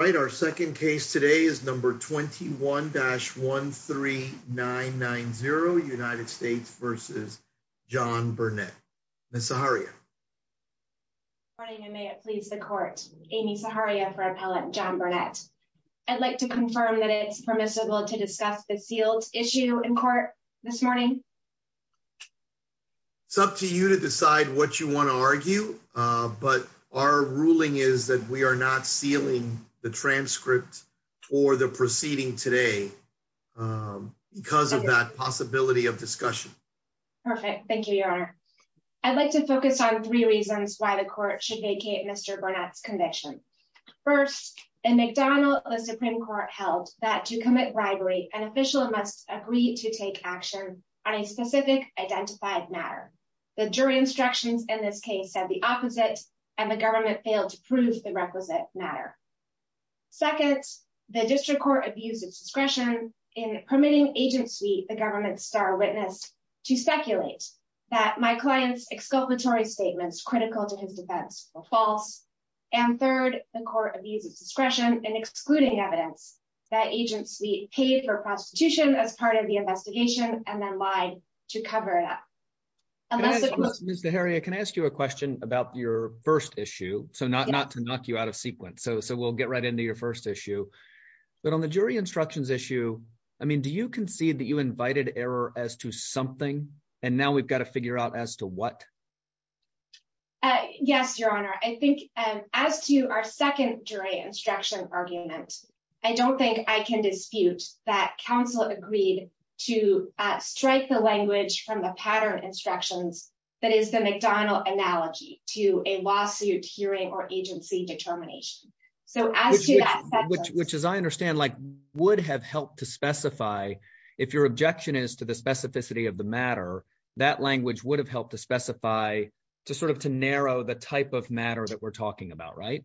All right, our second case today is number 21-13990 United States v. John Burnette. Ms. Zaharia. Good morning, and may it please the court. Amy Zaharia for Appellant John Burnette. I'd like to confirm that it's permissible to discuss the sealed issue in court this morning? It's up to you to decide what you want to argue, but our ruling is that we are not sealing the transcript or the proceeding today because of that possibility of discussion. Perfect. Thank you, Your Honor. I'd like to focus on three reasons why the court should vacate Mr. Burnette's conviction. First, in McDonald, the Supreme Court held that to commit bribery, an official must agree to take action on a specific identified matter. The jury instructions in this case said the opposite, and the government failed to prove the requisite matter. Second, the district court abused its discretion in permitting Agent Sweet, the government's star witness, to speculate that my client's exculpatory statements critical to his defense were false. And third, the court abused its discretion in excluding evidence that Agent Sweet paid for prostitution as part of the investigation and then lied to cover it up. Mr. Heria, can I ask you a question about your first issue? So not to knock you out of sequence. So we'll get right into your first issue. But on the jury instructions issue, I mean, do you concede that you invited error as to something? And now we've got to figure out as to what? Yes, Your Honor, I think as to our second jury instruction argument, I don't think I can dispute that counsel agreed to strike the language from the pattern instructions. That is the McDonald analogy to a lawsuit hearing or agency determination. Which, as I understand, like would have helped to specify if your objection is to the specificity of the matter, that language would have helped to specify to sort of to narrow the type of matter that we're talking about, right?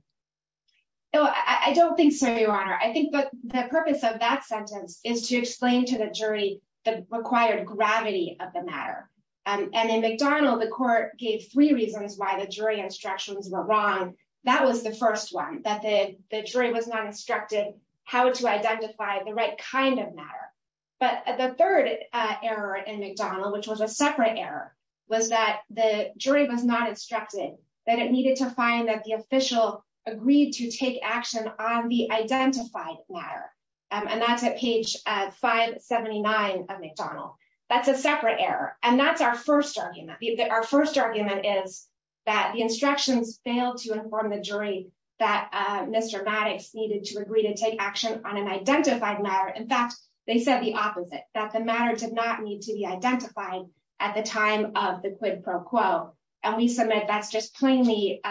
No, I don't think so, Your Honor. I think the purpose of that sentence is to explain to the jury the required gravity of the matter. And in McDonald, the court gave three reasons why the jury instructions were wrong. That was the first one, that the jury was not instructed how to identify the right kind of matter. But the third error in McDonald, which was a separate error, was that the jury was not instructed that it needed to find that the official agreed to take action on the identified matter. And that's at page 579 of McDonald. That's a separate error. And that's our first argument. Our first argument is that the instructions failed to inform the jury that Mr. Maddox needed to agree to take action on an identified matter. In fact, they said the opposite, that the matter did not need to be identified at the time of the quid pro quo. And we submit that's just plainly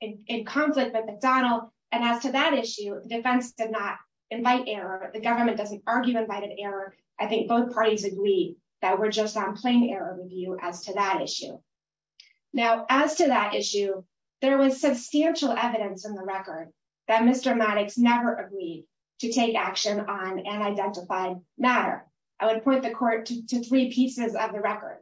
in conflict with McDonald. And as to that issue, the defense did not invite error. The government doesn't argue invited error. I think both parties agree that we're just on plain error review as to that issue. Now, as to that issue, there was substantial evidence in the record that Mr. Maddox never agreed to take action on an identified matter. I would point the court to three pieces of the record.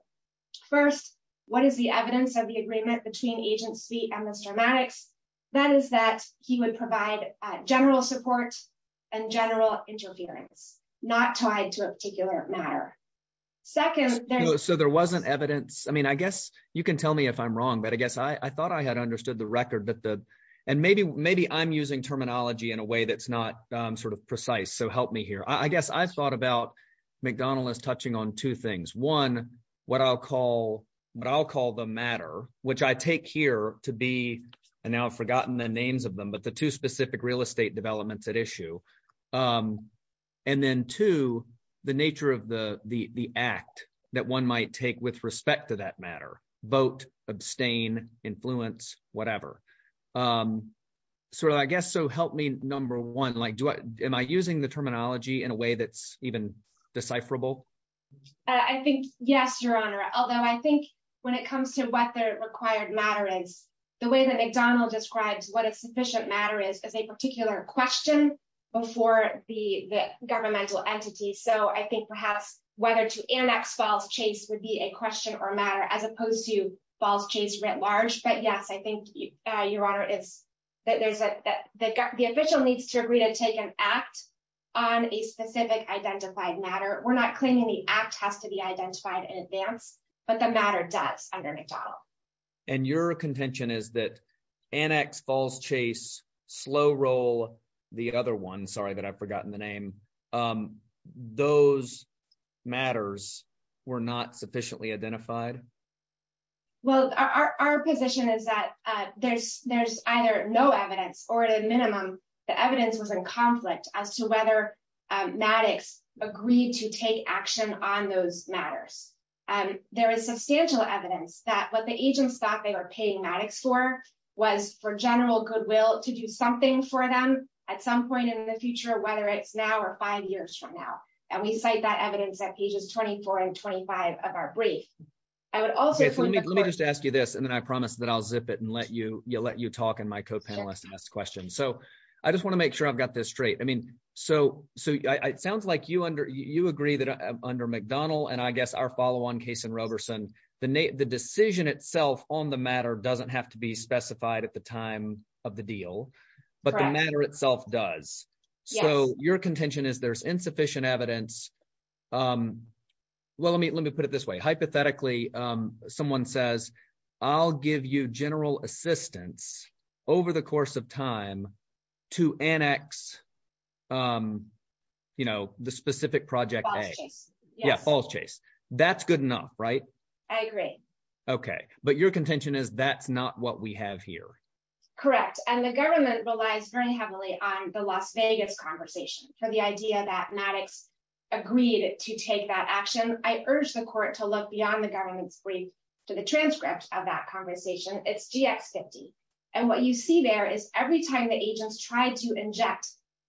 First, what is the evidence of the agreement between agency and Mr. Maddox? That is that he would provide general support and general interference, not tied to a particular matter. Second, so there wasn't evidence. I mean, I guess you can tell me if I'm wrong, but I guess I thought I had understood the record that the and maybe maybe I'm using terminology in a way that's not sort of precise. So help me here. I guess I thought about McDonald as touching on two things. One, what I'll call what I'll call the matter, which I take here to be. And now I've forgotten the names of them, but the two specific real estate developments at issue. And then to the nature of the the act that one might take with respect to that matter, vote, abstain, influence, whatever. So I guess so help me. Number one, like, do I am I using the terminology in a way that's even decipherable? I think, yes, Your Honor, although I think when it comes to what the required matter is, the way that McDonald describes what a sufficient matter is, is a particular question before the governmental entity. So I think perhaps whether to annex false chase would be a question or a matter as opposed to false chase writ large. But, yes, I think your honor is that there's the official needs to agree to take an act on a specific identified matter. We're not claiming the act has to be identified in advance, but the matter does under McDonald. And your contention is that annex false chase slow roll the other one. Sorry that I've forgotten the name. Those matters were not sufficiently identified. Well, our position is that there's there's either no evidence or a minimum. The evidence was in conflict as to whether Maddox agreed to take action on those matters. And there is substantial evidence that what the agents thought they were paying Maddox for was for general goodwill to do something for them at some point in the future, whether it's now or five years from now. And we cite that evidence at pages 24 and 25 of our brief. Let me just ask you this, and then I promise that I'll zip it and let you let you talk and my co-panelists ask questions. So I just want to make sure I've got this straight. I mean, so so it sounds like you under you agree that under McDonald and I guess our follow on case in Roberson, the the decision itself on the matter doesn't have to be specified at the time of the deal. But the matter itself does. So your contention is there's insufficient evidence. Well, let me let me put it this way. Hypothetically, someone says, I'll give you general assistance over the course of time to annex, you know, the specific project. Yeah, false chase. That's good enough. Right. I agree. Okay. But your contention is that's not what we have here. Correct. And the government relies very heavily on the Las Vegas conversation for the idea that Maddox agreed to take that action. I urge the court to look beyond the government's brief to the transcript of that conversation. And what you see there is every time the agents tried to inject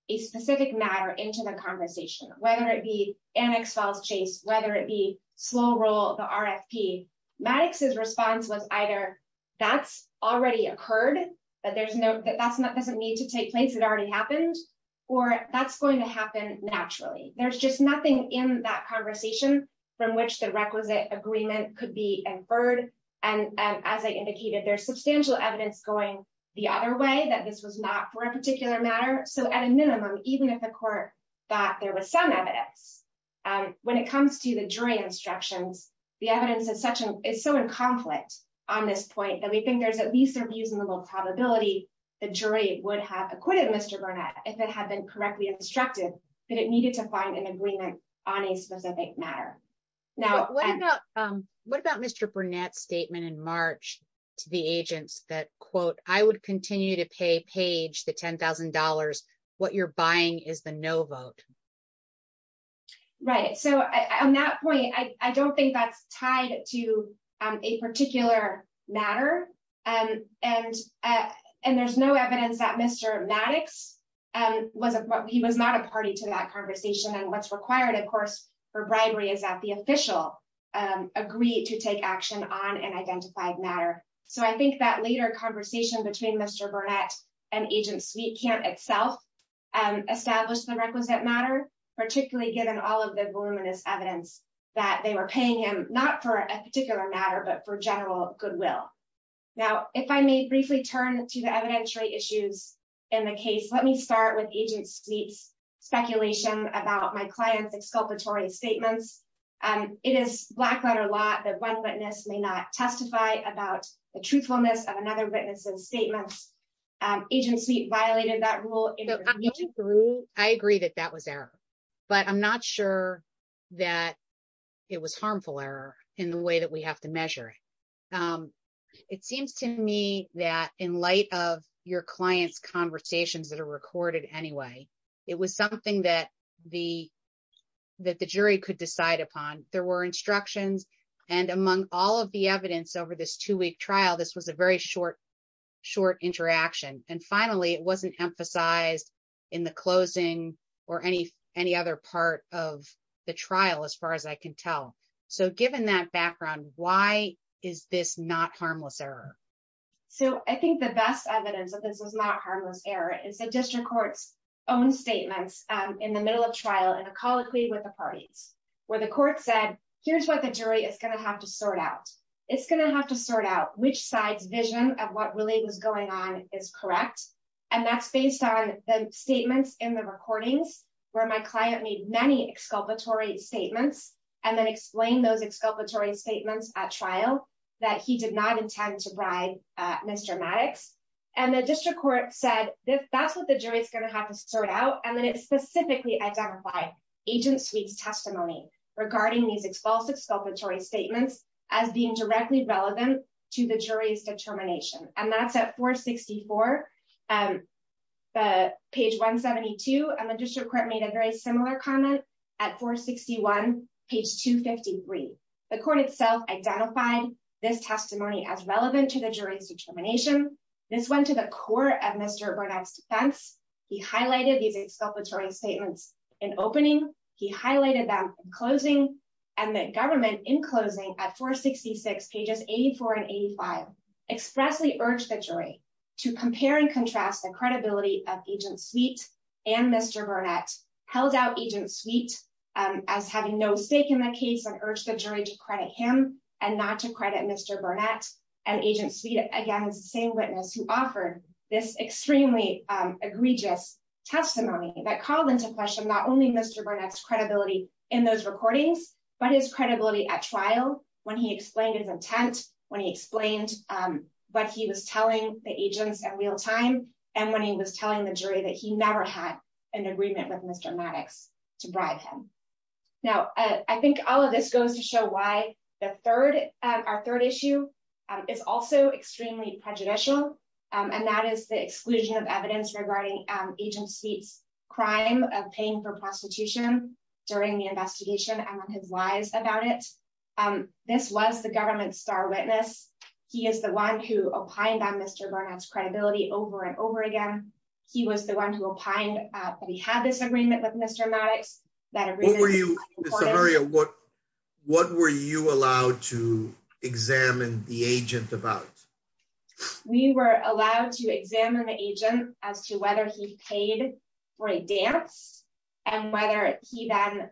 a specific matter into the conversation, whether it be an exiles chase, whether it be slow roll the RFP Maddox's response was either. That's already occurred, but there's no that that's not doesn't need to take place that already happened, or that's going to happen naturally. There's just nothing in that conversation from which the requisite agreement could be inferred. And as I indicated, there's substantial evidence going the other way that this was not for a particular matter. So at a minimum, even if the court thought there was some evidence. When it comes to the jury instructions. The evidence is such an is so in conflict on this point that we think there's at least a reasonable probability, the jury would have acquitted Mr Burnett, if it had been correctly instructed that it needed to find an agreement on a specific matter. Now, what about, what about Mr Burnett statement in March, to the agents that quote, I would continue to pay page the $10,000. What you're buying is the no vote. Right. So, on that point, I don't think that's tied to a particular matter. And, and, and there's no evidence that Mr Maddox wasn't what he was not a party to that conversation and what's required of course for bribery is that the official agree to take action on matter. So I think that later conversation between Mr Burnett and agents we can't itself, and establish the requisite matter, particularly given all of the voluminous evidence that they were paying him, not for a particular matter but for general goodwill. Now, if I may briefly turn to the evidentiary issues in the case let me start with agents needs speculation about my clients exculpatory statements, and it is black letter lot that one witness may not testify about the truthfulness of another witnesses statements agency violated that rule. I agree that that was there, but I'm not sure that it was harmful error in the way that we have to measure. It seems to me that in light of your clients conversations that are recorded anyway. It was something that the, that the jury could decide upon, there were instructions, and among all of the evidence over this two week trial this was a very short, short interaction, and finally it wasn't emphasized in the closing, or any, any other part of the trial as far as I can tell. So given that background, why is this not harmless error. So I think the best evidence that this is not harmless error is the district courts own statements in the middle of trial and a colloquy with the parties, where the court said, here's what the jury is going to have to sort out, it's going to have to sort out which side's vision of what really was going on is correct. And that's based on the statements in the recordings, where my client made many exculpatory statements, and then explain those exculpatory statements at trial that he did not intend to bribe. Mr Maddox, and the district court said this, that's what the jury is going to have to start out and then it specifically identify agents weeks testimony regarding these explosive exculpatory statements as being directly relevant to the jury's determination, and that's at page 172 and the district court made a very similar comment at 461 page 253, the court itself identified this testimony as relevant to the jury's determination. This went to the core of Mr Burnett's defense. He highlighted these exculpatory statements in opening, he highlighted them, closing, and the government in closing at 466 pages, 84 and 85 expressly urge the jury to compare and contrast the credibility of agent Burnett held out agent suite as having no stake in the case and urge the jury to credit him, and not to credit Mr Burnett and agent suite again as the same witness who offered this extremely egregious testimony that called into question not only Mr Burnett's Mr Maddox to bribe him. Now, I think all of this goes to show why the third, our third issue is also extremely prejudicial, and that is the exclusion of evidence regarding agent seats, crime of paying for prostitution during the investigation and on his lies about it. This was the government's star witness. He is the one who opined on Mr Burnett's credibility over and over again. He was the one who opined that he had this agreement with Mr Maddox. What were you, what, what were you allowed to examine the agent about. We were allowed to examine the agent as to whether he paid for a dance, and whether he then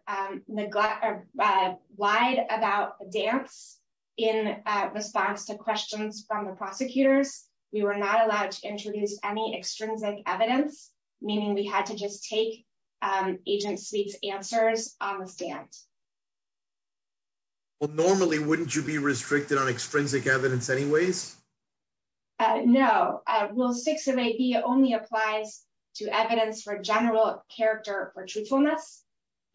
neglect or lied about the dance in response to questions from the prosecutors, we were not allowed to introduce any extrinsic evidence, meaning we had to just take answers on the stand. Well normally wouldn't you be restricted on extrinsic evidence anyways. No. Well 608B only applies to evidence for general character for truthfulness.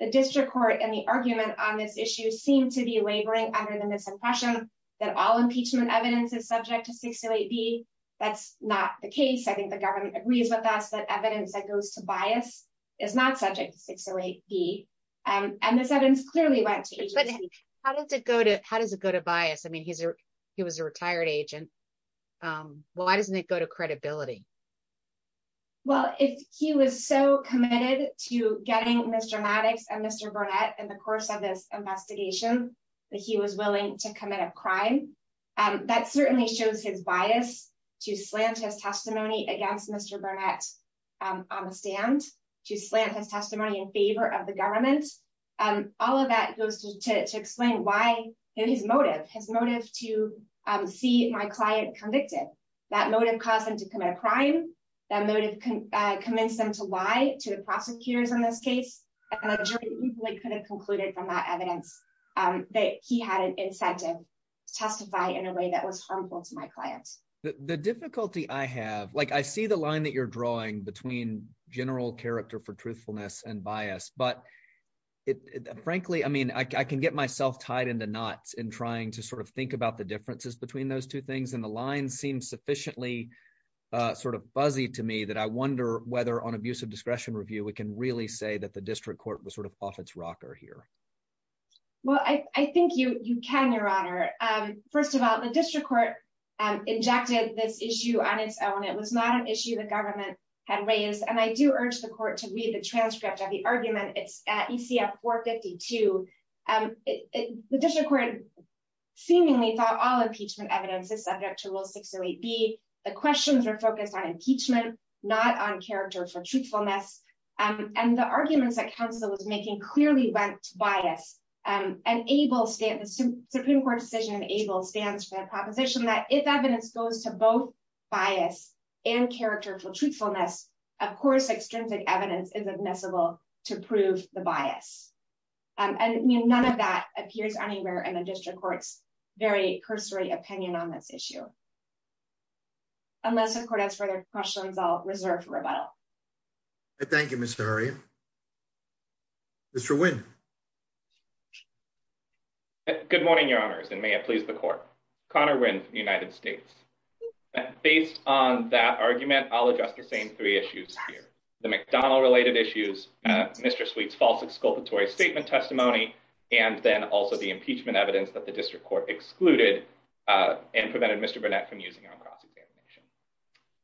The district court and the argument on this issue seem to be laboring under the misimpression that all impeachment evidence is subject to 608B. That's not the case I think the government agrees with us that evidence that goes to bias is not subject to 608B. And this evidence clearly went to agency. How does it go to how does it go to bias I mean he's, he was a retired agent. Why doesn't it go to credibility. Well, if he was so committed to getting Mr Maddox and Mr Burnett and the course of this investigation that he was willing to commit a crime. That certainly shows his bias to slant his testimony against Mr Burnett on the stand to slant his testimony in favor of the government, and all of that goes to explain why his motive, his motive to see my client convicted that motive caused him to commit a crime that motive can convince them to lie to the prosecutors in this case, and a jury could have concluded from that evidence that he had an incentive to testify in a way that was harmful to my clients, the difficulty I have like I see the line that you're sort of fuzzy to me that I wonder whether on abuse of discretion review we can really say that the district court was sort of off its rocker here. Well, I think you, you can your honor. First of all, the district court injected this issue on its own it was not an issue that government had raised and I do urge the court to read the transcript of the argument it's at ECF 452. The district court seemingly thought all impeachment evidence is subject to rule six or eight be the questions are focused on impeachment, not on character for truthfulness, and the arguments that Council was making clearly went to bias and able stand the Supreme Court decision able stands for the proposition that if evidence goes to both bias and character for truthfulness, of course extrinsic evidence is admissible to prove the bias. And none of that appears anywhere in the district courts very cursory opinion on this issue. Unless the court has further questions I'll reserve for rebuttal. Thank you, Mr. Sorry. Mr when. Good morning, your honors and may it please the court. Connor when United States. Based on that argument, I'll address the same three issues here, the McDonald related issues, Mr sweets false exculpatory statement testimony, and then also the impeachment evidence that the district court excluded and prevented Mr Burnett from using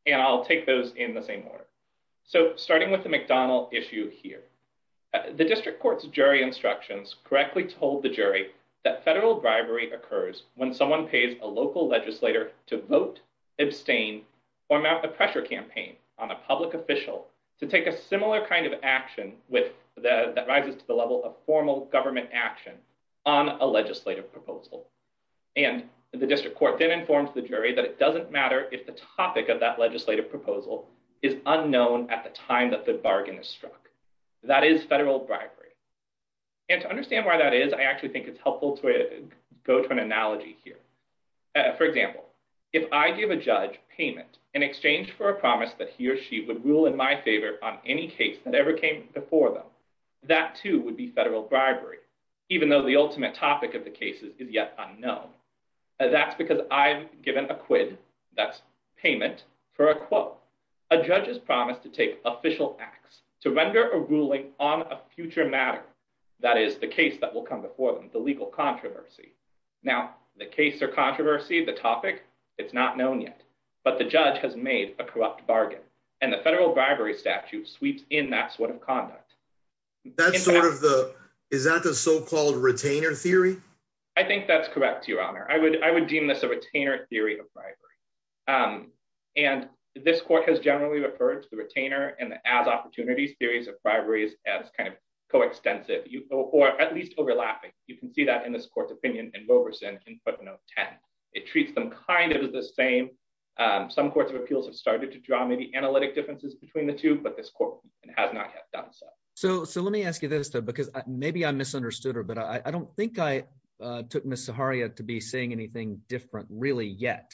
And I'll take those in the same order. So, starting with the McDonald issue here. The district courts jury instructions correctly told the jury that federal bribery occurs when someone pays a local legislator to vote abstain or not the pressure campaign on a public official to take a similar kind of action with the rises to the level of formal government action on a legislative proposal. And the district court then informs the jury that it doesn't matter if the topic of that legislative proposal is unknown at the time that the bargain is struck. That is federal bribery. And to understand why that is I actually think it's helpful to go to an analogy here. For example, if I give a judge payment in exchange for a promise that he or she would rule in my favor on any case that ever came before them. That too would be federal bribery, even though the ultimate topic of the cases is yet unknown. That's because I've given a quid. That's payment for a quote, a judge's promise to take official acts to render a ruling on a future matter. That is the case that will come before the legal controversy. Now, the case or controversy the topic. It's not known yet, but the judge has made a corrupt bargain, and the federal bribery statute sweeps in that sort of conduct. That's sort of the is that the so called retainer theory. I think that's correct, Your Honor, I would, I would deem this a retainer theory of bribery. And this court has generally referred to the retainer and as opportunities theories of bribery is as kind of co extensive you or at least overlapping, you can see that in this court's opinion and Wilberson can put no 10, it treats them kind of the same. Some courts of appeals have started to draw many analytic differences between the two, but this court has not done so. So, so let me ask you this because maybe I misunderstood her but I don't think I took Miss Haria to be saying anything different really yet.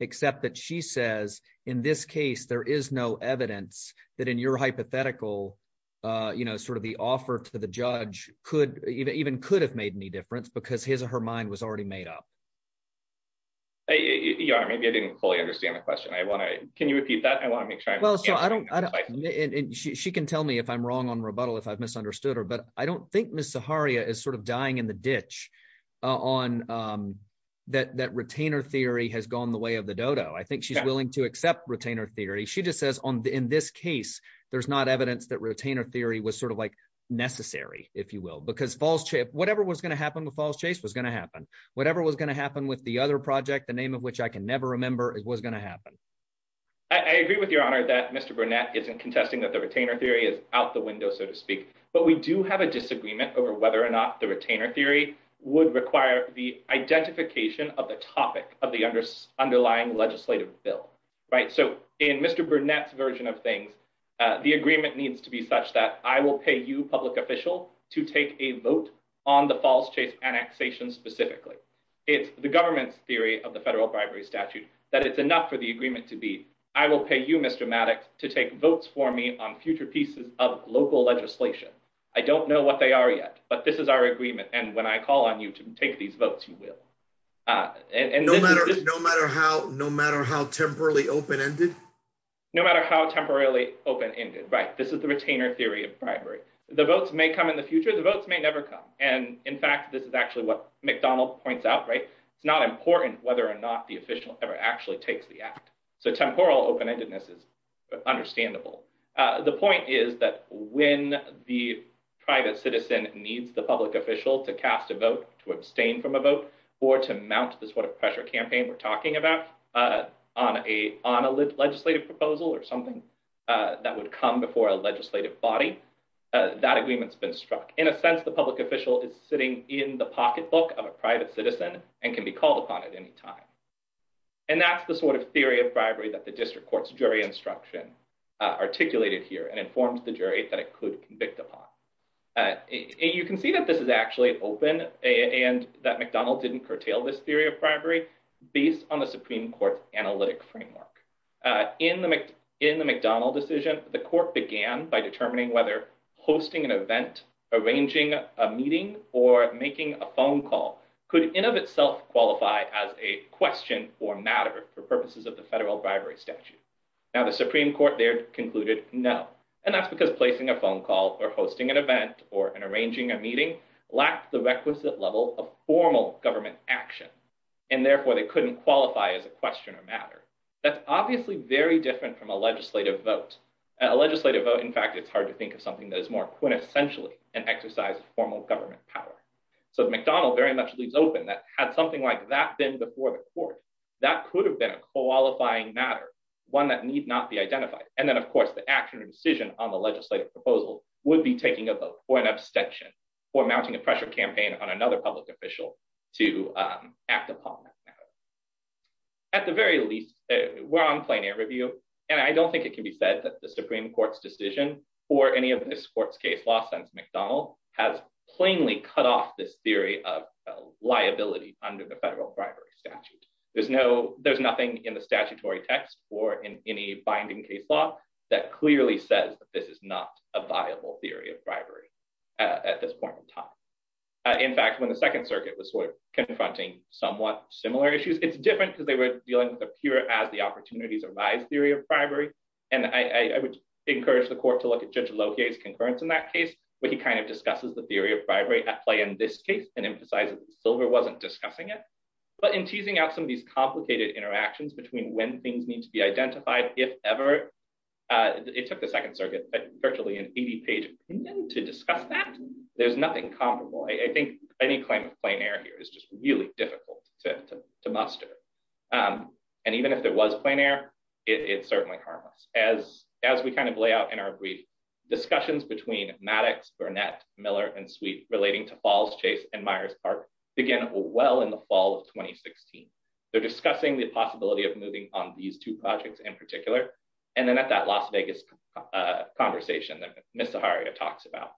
Except that she says, in this case, there is no evidence that in your hypothetical, you know, sort of the offer to the judge could even could have made any difference because his or her mind was already made up. Maybe I didn't fully understand the question I want to, can you repeat that I want to make sure I don't. She can tell me if I'm wrong on rebuttal if I've misunderstood her but I don't think Miss Haria is sort of dying in the ditch on that that retainer theory has gone the way of the Dodo I think she's willing to accept retainer theory she just says on the in this case, there's not evidence that retainer theory was sort of like necessary, if you will, because false chip, whatever was going to happen with false chase was going to happen, whatever was going to happen with the other project, the name of which I can never remember it was going to happen. I agree with your honor that Mr Burnett isn't contesting that the retainer theory is out the window, so to speak, but we do have a disagreement over whether or not the retainer theory would require the identification of the topic of the under underlying legislative bill right so in Mr Burnett version of things. The agreement needs to be such that I will pay you public official to take a vote on the false chase annexation specifically, it's the government's theory of the federal bribery statute that it's enough for the agreement to be. I will pay you Mr Maddox to take votes for me on future pieces of local legislation. I don't know what they are yet, but this is our agreement and when I call on you to take these votes, you will. And no matter, no matter how no matter how temporarily open ended. No matter how temporarily open ended right this is the retainer theory of bribery, the votes may come in the future the votes may never come, and in fact this is actually what McDonald points out right, it's not important whether or not the official ever actually takes the act. So temporal open endedness is understandable. The point is that when the private citizen needs the public official to cast a vote to abstain from a vote, or to mount this what a pressure campaign we're talking about on a on a legislative proposal or something that would come before a legislative body that agreements been struck in a sense the public official is sitting in the pocketbook of a private citizen, and can be called upon at any time. And that's the sort of theory of bribery that the district courts jury instruction articulated here and informed the jury that it could convict upon. You can see that this is actually open, and that McDonald didn't curtail this theory of bribery, based on the Supreme Court analytic framework in the in the McDonald decision, the court began by determining whether hosting an event, arranging a meeting, or making a phone meeting, lack the requisite level of formal government action, and therefore they couldn't qualify as a question of matter. That's obviously very different from a legislative vote, a legislative vote in fact it's hard to think of something that is more quintessentially an exercise formal government power. So McDonald very much leaves open that had something like that been before the court that could have been a qualifying matter, one that need not be identified, and then of course the actual decision on the legislative proposal would be taking a vote for an abstention for mounting a pressure campaign on another public official to act upon. At the very least, we're on plain air review, and I don't think it can be said that the Supreme Court's decision for any of this court's case law since McDonald has plainly cut off this theory of liability under the federal bribery statute. There's no, there's nothing in the statutory text or in any binding case law that clearly says that this is not a viable theory of bribery. At this point in time. In fact, when the Second Circuit was sort of confronting somewhat similar issues it's different because they were dealing with a pure as the opportunities arise theory of bribery, and I would encourage the court to look at judge locates concurrence in that case, but he kind of discusses the theory of bribery at play in this case, and emphasizes silver wasn't discussing it, but in teasing out some of these complicated interactions between when things need to be identified, if ever. It took the Second Circuit virtually an 80 page to discuss that there's nothing comparable I think any claim of plain air here is just really difficult to muster. And even if there was a plane air, it's certainly harmless, as, as we kind of lay out in our brief discussions between Maddox Burnett Miller and sweet relating to falls chase and Myers Park, again, well in the fall of 2016. They're discussing the possibility of moving on these two projects in particular. And then at that Las Vegas conversation that Mr Harriet talks about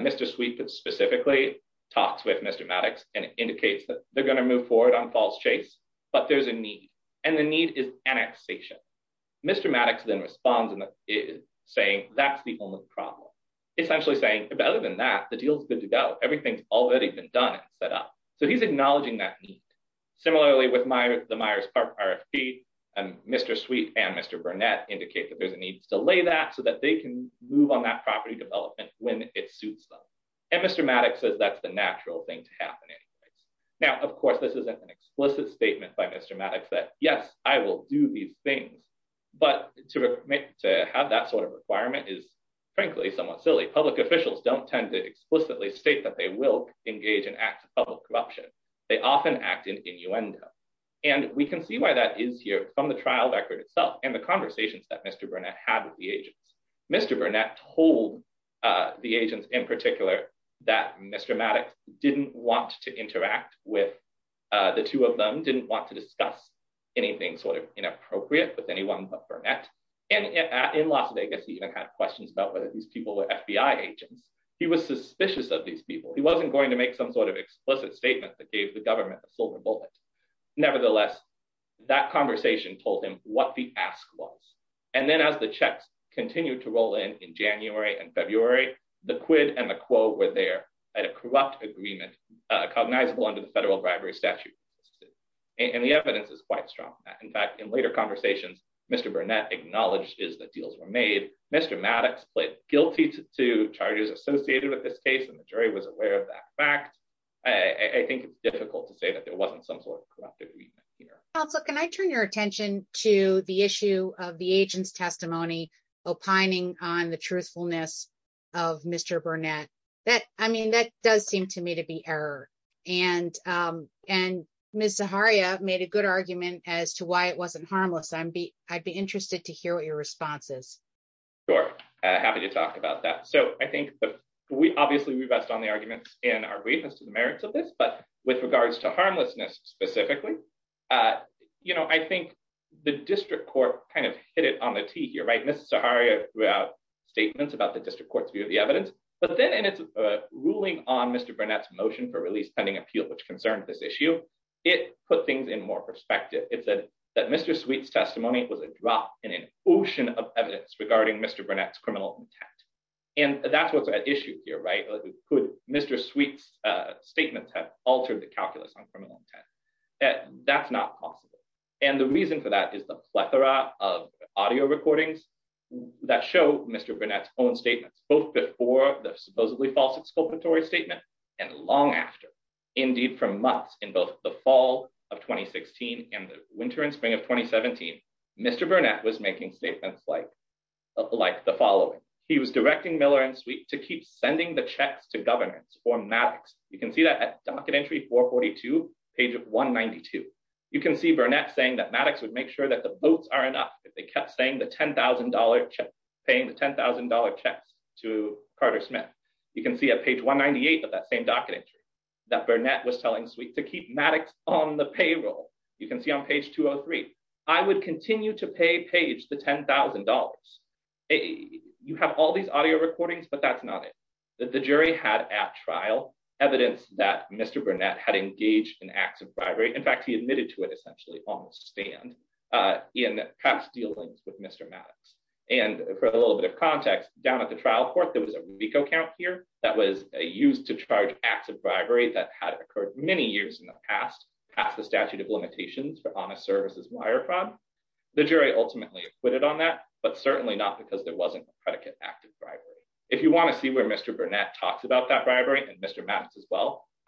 Mr sweet that specifically talks with Mr Maddox, and indicates that they're going to move forward on falls chase, but there's a need, and the need is annexation. Mr Maddox then responds and is saying, that's the only problem. It's actually saying, other than that, the deal is good to go. Everything's already been done, set up, so he's acknowledging that need. Similarly with my the Myers Park RFP and Mr sweet and Mr Burnett indicate that there's a need to delay that so that they can move on that property development, when it suits them. And Mr Maddox says that's the natural thing to happen. Now of course this isn't an explicit statement by Mr Maddox that yes, I will do these things, but to make to have that sort of requirement is frankly somewhat silly public officials don't tend to explicitly state that they will engage and act of corruption. They often act in innuendo. And we can see why that is here from the trial record itself and the conversations that Mr Burnett had with the agents, Mr Burnett told the agents in particular that Mr Maddox didn't want to interact with the two of them didn't want to discuss anything sort of inappropriate with anyone but Burnett and in Las Vegas he even had questions about whether these people were FBI agents, he was suspicious of these people he wasn't going to make some sort of explicit statement that gave Nevertheless, that conversation told him what the ask was. And then as the checks continue to roll in in January and February, the quid and the quo were there at a corrupt agreement cognizable under the federal bribery statute. And the evidence is quite strong. In fact, in later conversations, Mr Burnett acknowledges that deals were made, Mr Maddox played guilty to charges associated with this case and the jury was aware of that fact, I think it's difficult to say that there wasn't some sort of Ms Zaharia made a good argument as to why it wasn't harmless I'd be, I'd be interested to hear what your responses. Sure. Happy to talk about that. So I think we obviously we rest on the arguments in our briefness to the merits of this but with regards to harmlessness, specifically, you know, I think the district court kind of hit it on the tee here right Ms Zaharia throughout statements about the district court's view of the evidence, but then and it's ruling on Mr Burnett's motion for release pending appeal which concerns this issue, it put things in more perspective, it said that Mr sweets testimony was a drop in an ocean of evidence regarding Mr Burnett's criminal intent. And that's what's at issue here right Mr sweets statements have altered the calculus on criminal intent. That's not possible. And the reason for that is the plethora of audio recordings that show Mr Burnett's own statements, both before the supposedly false exculpatory statement. And long after. Indeed, for months in both the fall of 2016, and the winter and spring of 2017, Mr Burnett was making statements like, like the following. He was directing Miller and sweet to keep sending the checks to governance for Maddox, you can see that at docket entry for 42 pages 192. You can see Burnett saying that Maddox would make sure that the votes are enough if they kept saying the $10,000 paying the $10,000 checks to Carter Smith. You can see a page 198 of that same docket entry that Burnett was telling sweet to keep Maddox on the payroll. You can see on page 203, I would continue to pay page the $10,000 a, you have all these audio recordings but that's not it, that the jury had at trial evidence that Mr Burnett had engaged in acts of bribery in fact he admitted to it essentially in past dealings with Mr Maddox, and for a little bit of context, down at the trial court there was a vehicle count here that was used to charge acts of bribery that had occurred many years in the past, past the statute of limitations for honest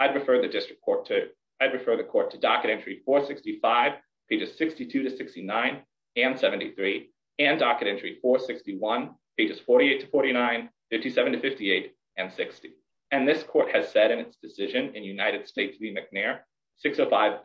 I'd refer the court to docket entry for 65 pages 62 to 69 and 73 and docket entry for 61 pages 48 to 4957 to 58 and 60, and this court has said in its decision in United States the McNair 605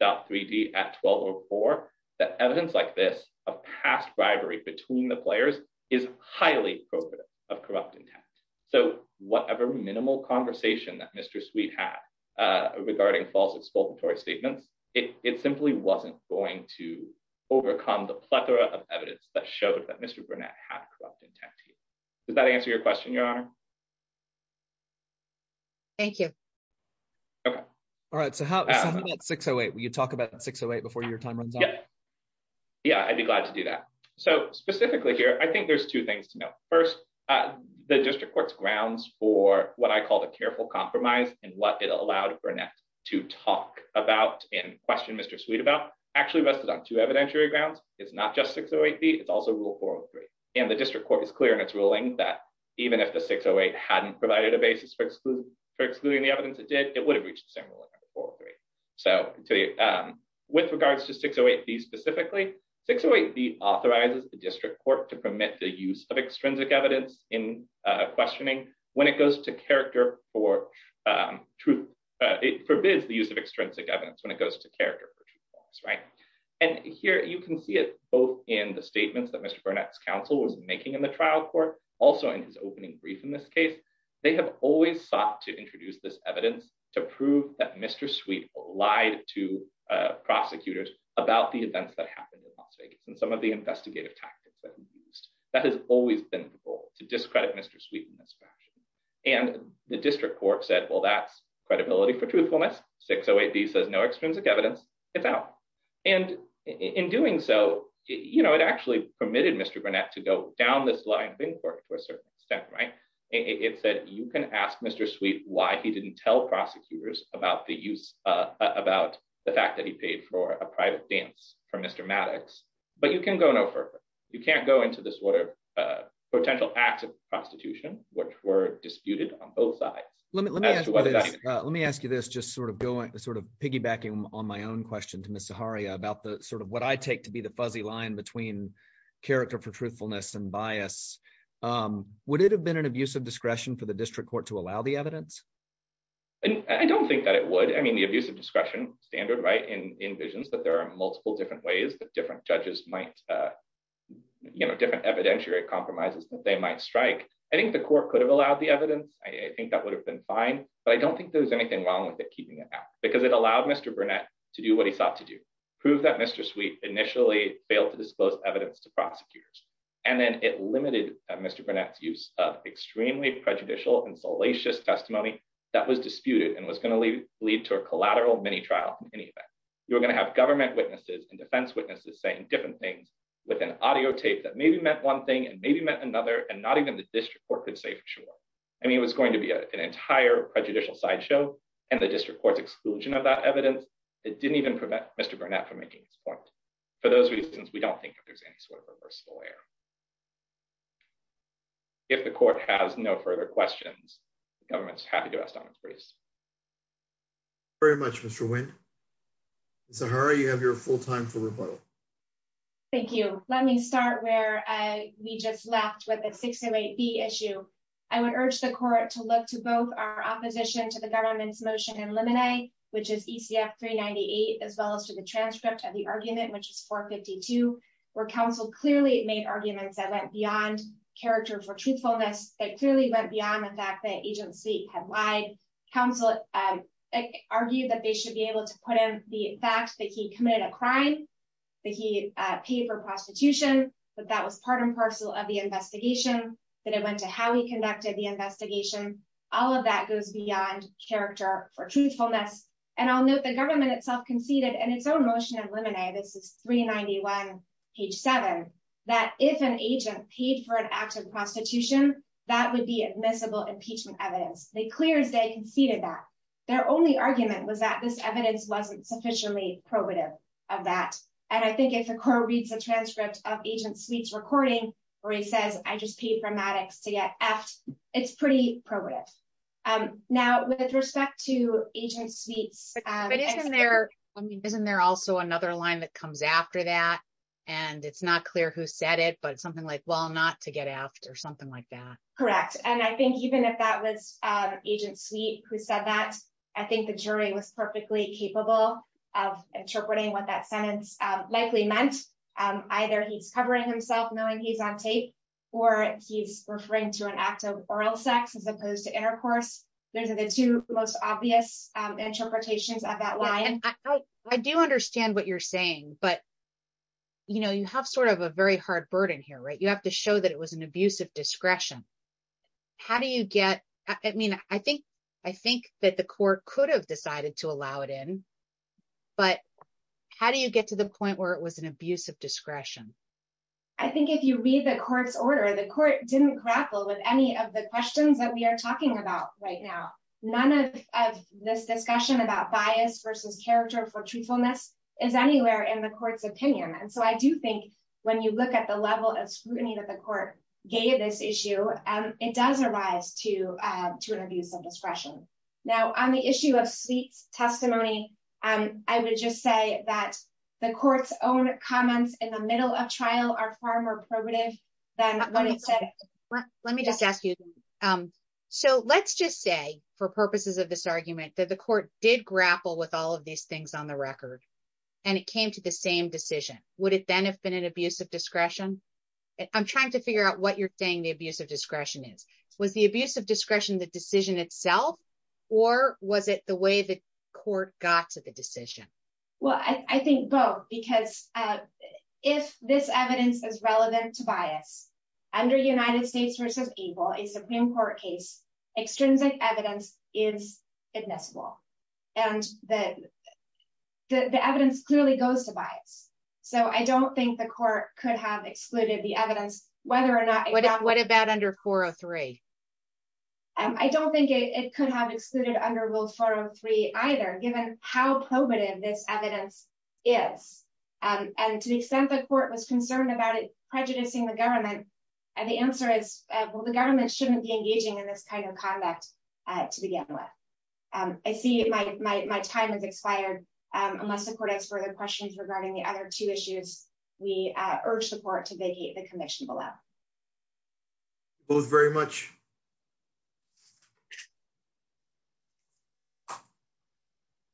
dot 3d at 12 or four that evidence like this, a past bribery between the players is highly appropriate of corrupt intent. So, whatever minimal conversation that Mr sweet hat regarding false expulsory statements, it simply wasn't going to overcome the plethora of evidence that showed that Mr Burnett have corrupt intent. Does that answer your question, Your Honor. Thank you. All right, so how 608 when you talk about 608 before your time runs out. Yeah, I'd be glad to do that. So, specifically here I think there's two things to know. First, the district courts grounds for what I call the careful compromise and what it allowed Burnett to talk about in question Mr sweet about actually rested on to evidentiary grounds, it's not just 608 be it's also rule for three, and the district court is clear and it's ruling that even if the 608 hadn't provided a basis for exclude for excluding the evidence it did it would have reached the same. So, with regards to 608 be specifically 608 be authorizes the district court to permit the use of extrinsic evidence in questioning, when it goes to character for truth. It forbids the use of extrinsic evidence when it goes to character. And here you can see it, both in the statements that Mr Burnett's counsel was making in the trial court, also in his opening brief in this case, they have always sought to introduce this evidence to prove that Mr sweet lied to prosecutors about the events that happened in Las Vegas and some of the investigative tactics that we used that has always been the goal to discredit Mr sweet in this fashion, and the district court said well that's credibility for truthfulness 608 he says no extrinsic evidence, it's out. And in doing so, you know, it actually permitted Mr Burnett to go down this line of inquiry to a certain extent right, it said, you can ask Mr sweet why he didn't tell prosecutors about the use about the fact that he paid for a private dance for Mr But you can go no further. You can't go into this water, potential acts of prostitution, which were disputed on both sides. Let me let me let me ask you this just sort of going sort of piggybacking on my own question to Mr Hari about the sort of what I take to be the fuzzy line between character for truthfulness and bias. Would it have been an abuse of discretion for the district court to allow the evidence. And I don't think that it would I mean the abuse of discretion standard right and envisions that there are multiple different ways that different judges might, you know, different evidentiary compromises that they might strike. I think the court could have allowed the evidence, I think that would have been fine, but I don't think there's anything wrong with it keeping it out because it allowed Mr Burnett to do what he thought to do, prove that Mr sweet initially failed to disclose evidence to prosecutors, and then it limited Mr Burnett use of extremely prejudicial and salacious testimony that was disputed and was going to leave lead to a collateral mini trial. You're going to have government witnesses and defense witnesses saying different things with an audio tape that maybe meant one thing and maybe met another and not even the district court could say for sure. I mean it was going to be an entire prejudicial sideshow, and the district courts exclusion of that evidence. It didn't even prevent Mr Burnett from making support. For those reasons we don't think there's any sort of a personal layer. If the court has no further questions. Government's happy to ask. Very much, Mr. So how are you have your full time for rebuttal. Thank you, let me start where we just left with a 68 be issue. I would urge the court to look to both our opposition to the government's motion and lemonade, which is ECF 398 as well as to the transcript of the argument which is for 52 were counsel clearly made arguments that went beyond character for truthfulness that clearly went beyond the fact that agency had lied. Council argued that they should be able to put in the fact that he committed a crime that he paid for prostitution, but that was part and page seven, that if an agent paid for an act of prostitution, that would be admissible impeachment evidence, they clear as day conceded that their only argument was that this evidence wasn't sufficiently probative of that. And I think if the core reads a transcript of agent sweets recording, or he says, I just paid for Maddox to get asked. It's pretty progress. Now, with respect to agent sweets. Isn't there also another line that comes after that. And it's not clear who said it but something like well not to get after something like that. Correct. And I think even if that was agent sweet who said that, I think the jury was perfectly capable of interpreting what that sentence likely meant. Either he's covering himself knowing he's on tape, or he's referring to an act of oral sex as opposed to intercourse. Those are the two most obvious interpretations of that line. I do understand what you're saying, but you know you have sort of a very hard burden here right you have to show that it was an abuse of discretion. How do you get, I mean, I think, I think that the court could have decided to allow it in. But how do you get to the point where it was an abuse of discretion. I think if you read the court's order the court didn't grapple with any of the questions that we are talking about right now. None of this discussion about bias versus character for truthfulness is anywhere in the court's opinion and so I do think when you are far more primitive. Let me just ask you. So let's just say for purposes of this argument that the court did grapple with all of these things on the record. And it came to the same decision, would it then have been an abuse of discretion. I'm trying to figure out what you're saying the abuse of discretion is was the abuse of discretion the decision itself, or was it the way that court got to the decision. Well, I think both because if this evidence is relevant to bias under United States versus evil a Supreme Court case extrinsic evidence is admissible. And then the evidence clearly goes to bias. So I don't think the court could have excluded the evidence, whether or not what about under 403. I don't think it could have excluded under will follow three either given how primitive this evidence is, and to the extent the court was concerned about it, prejudicing the government. And the answer is, well the government shouldn't be engaging in this kind of conduct. To begin with. I see my time has expired. Unless the court has further questions regarding the other two issues. We urge support to vacate the commission below. Both very much.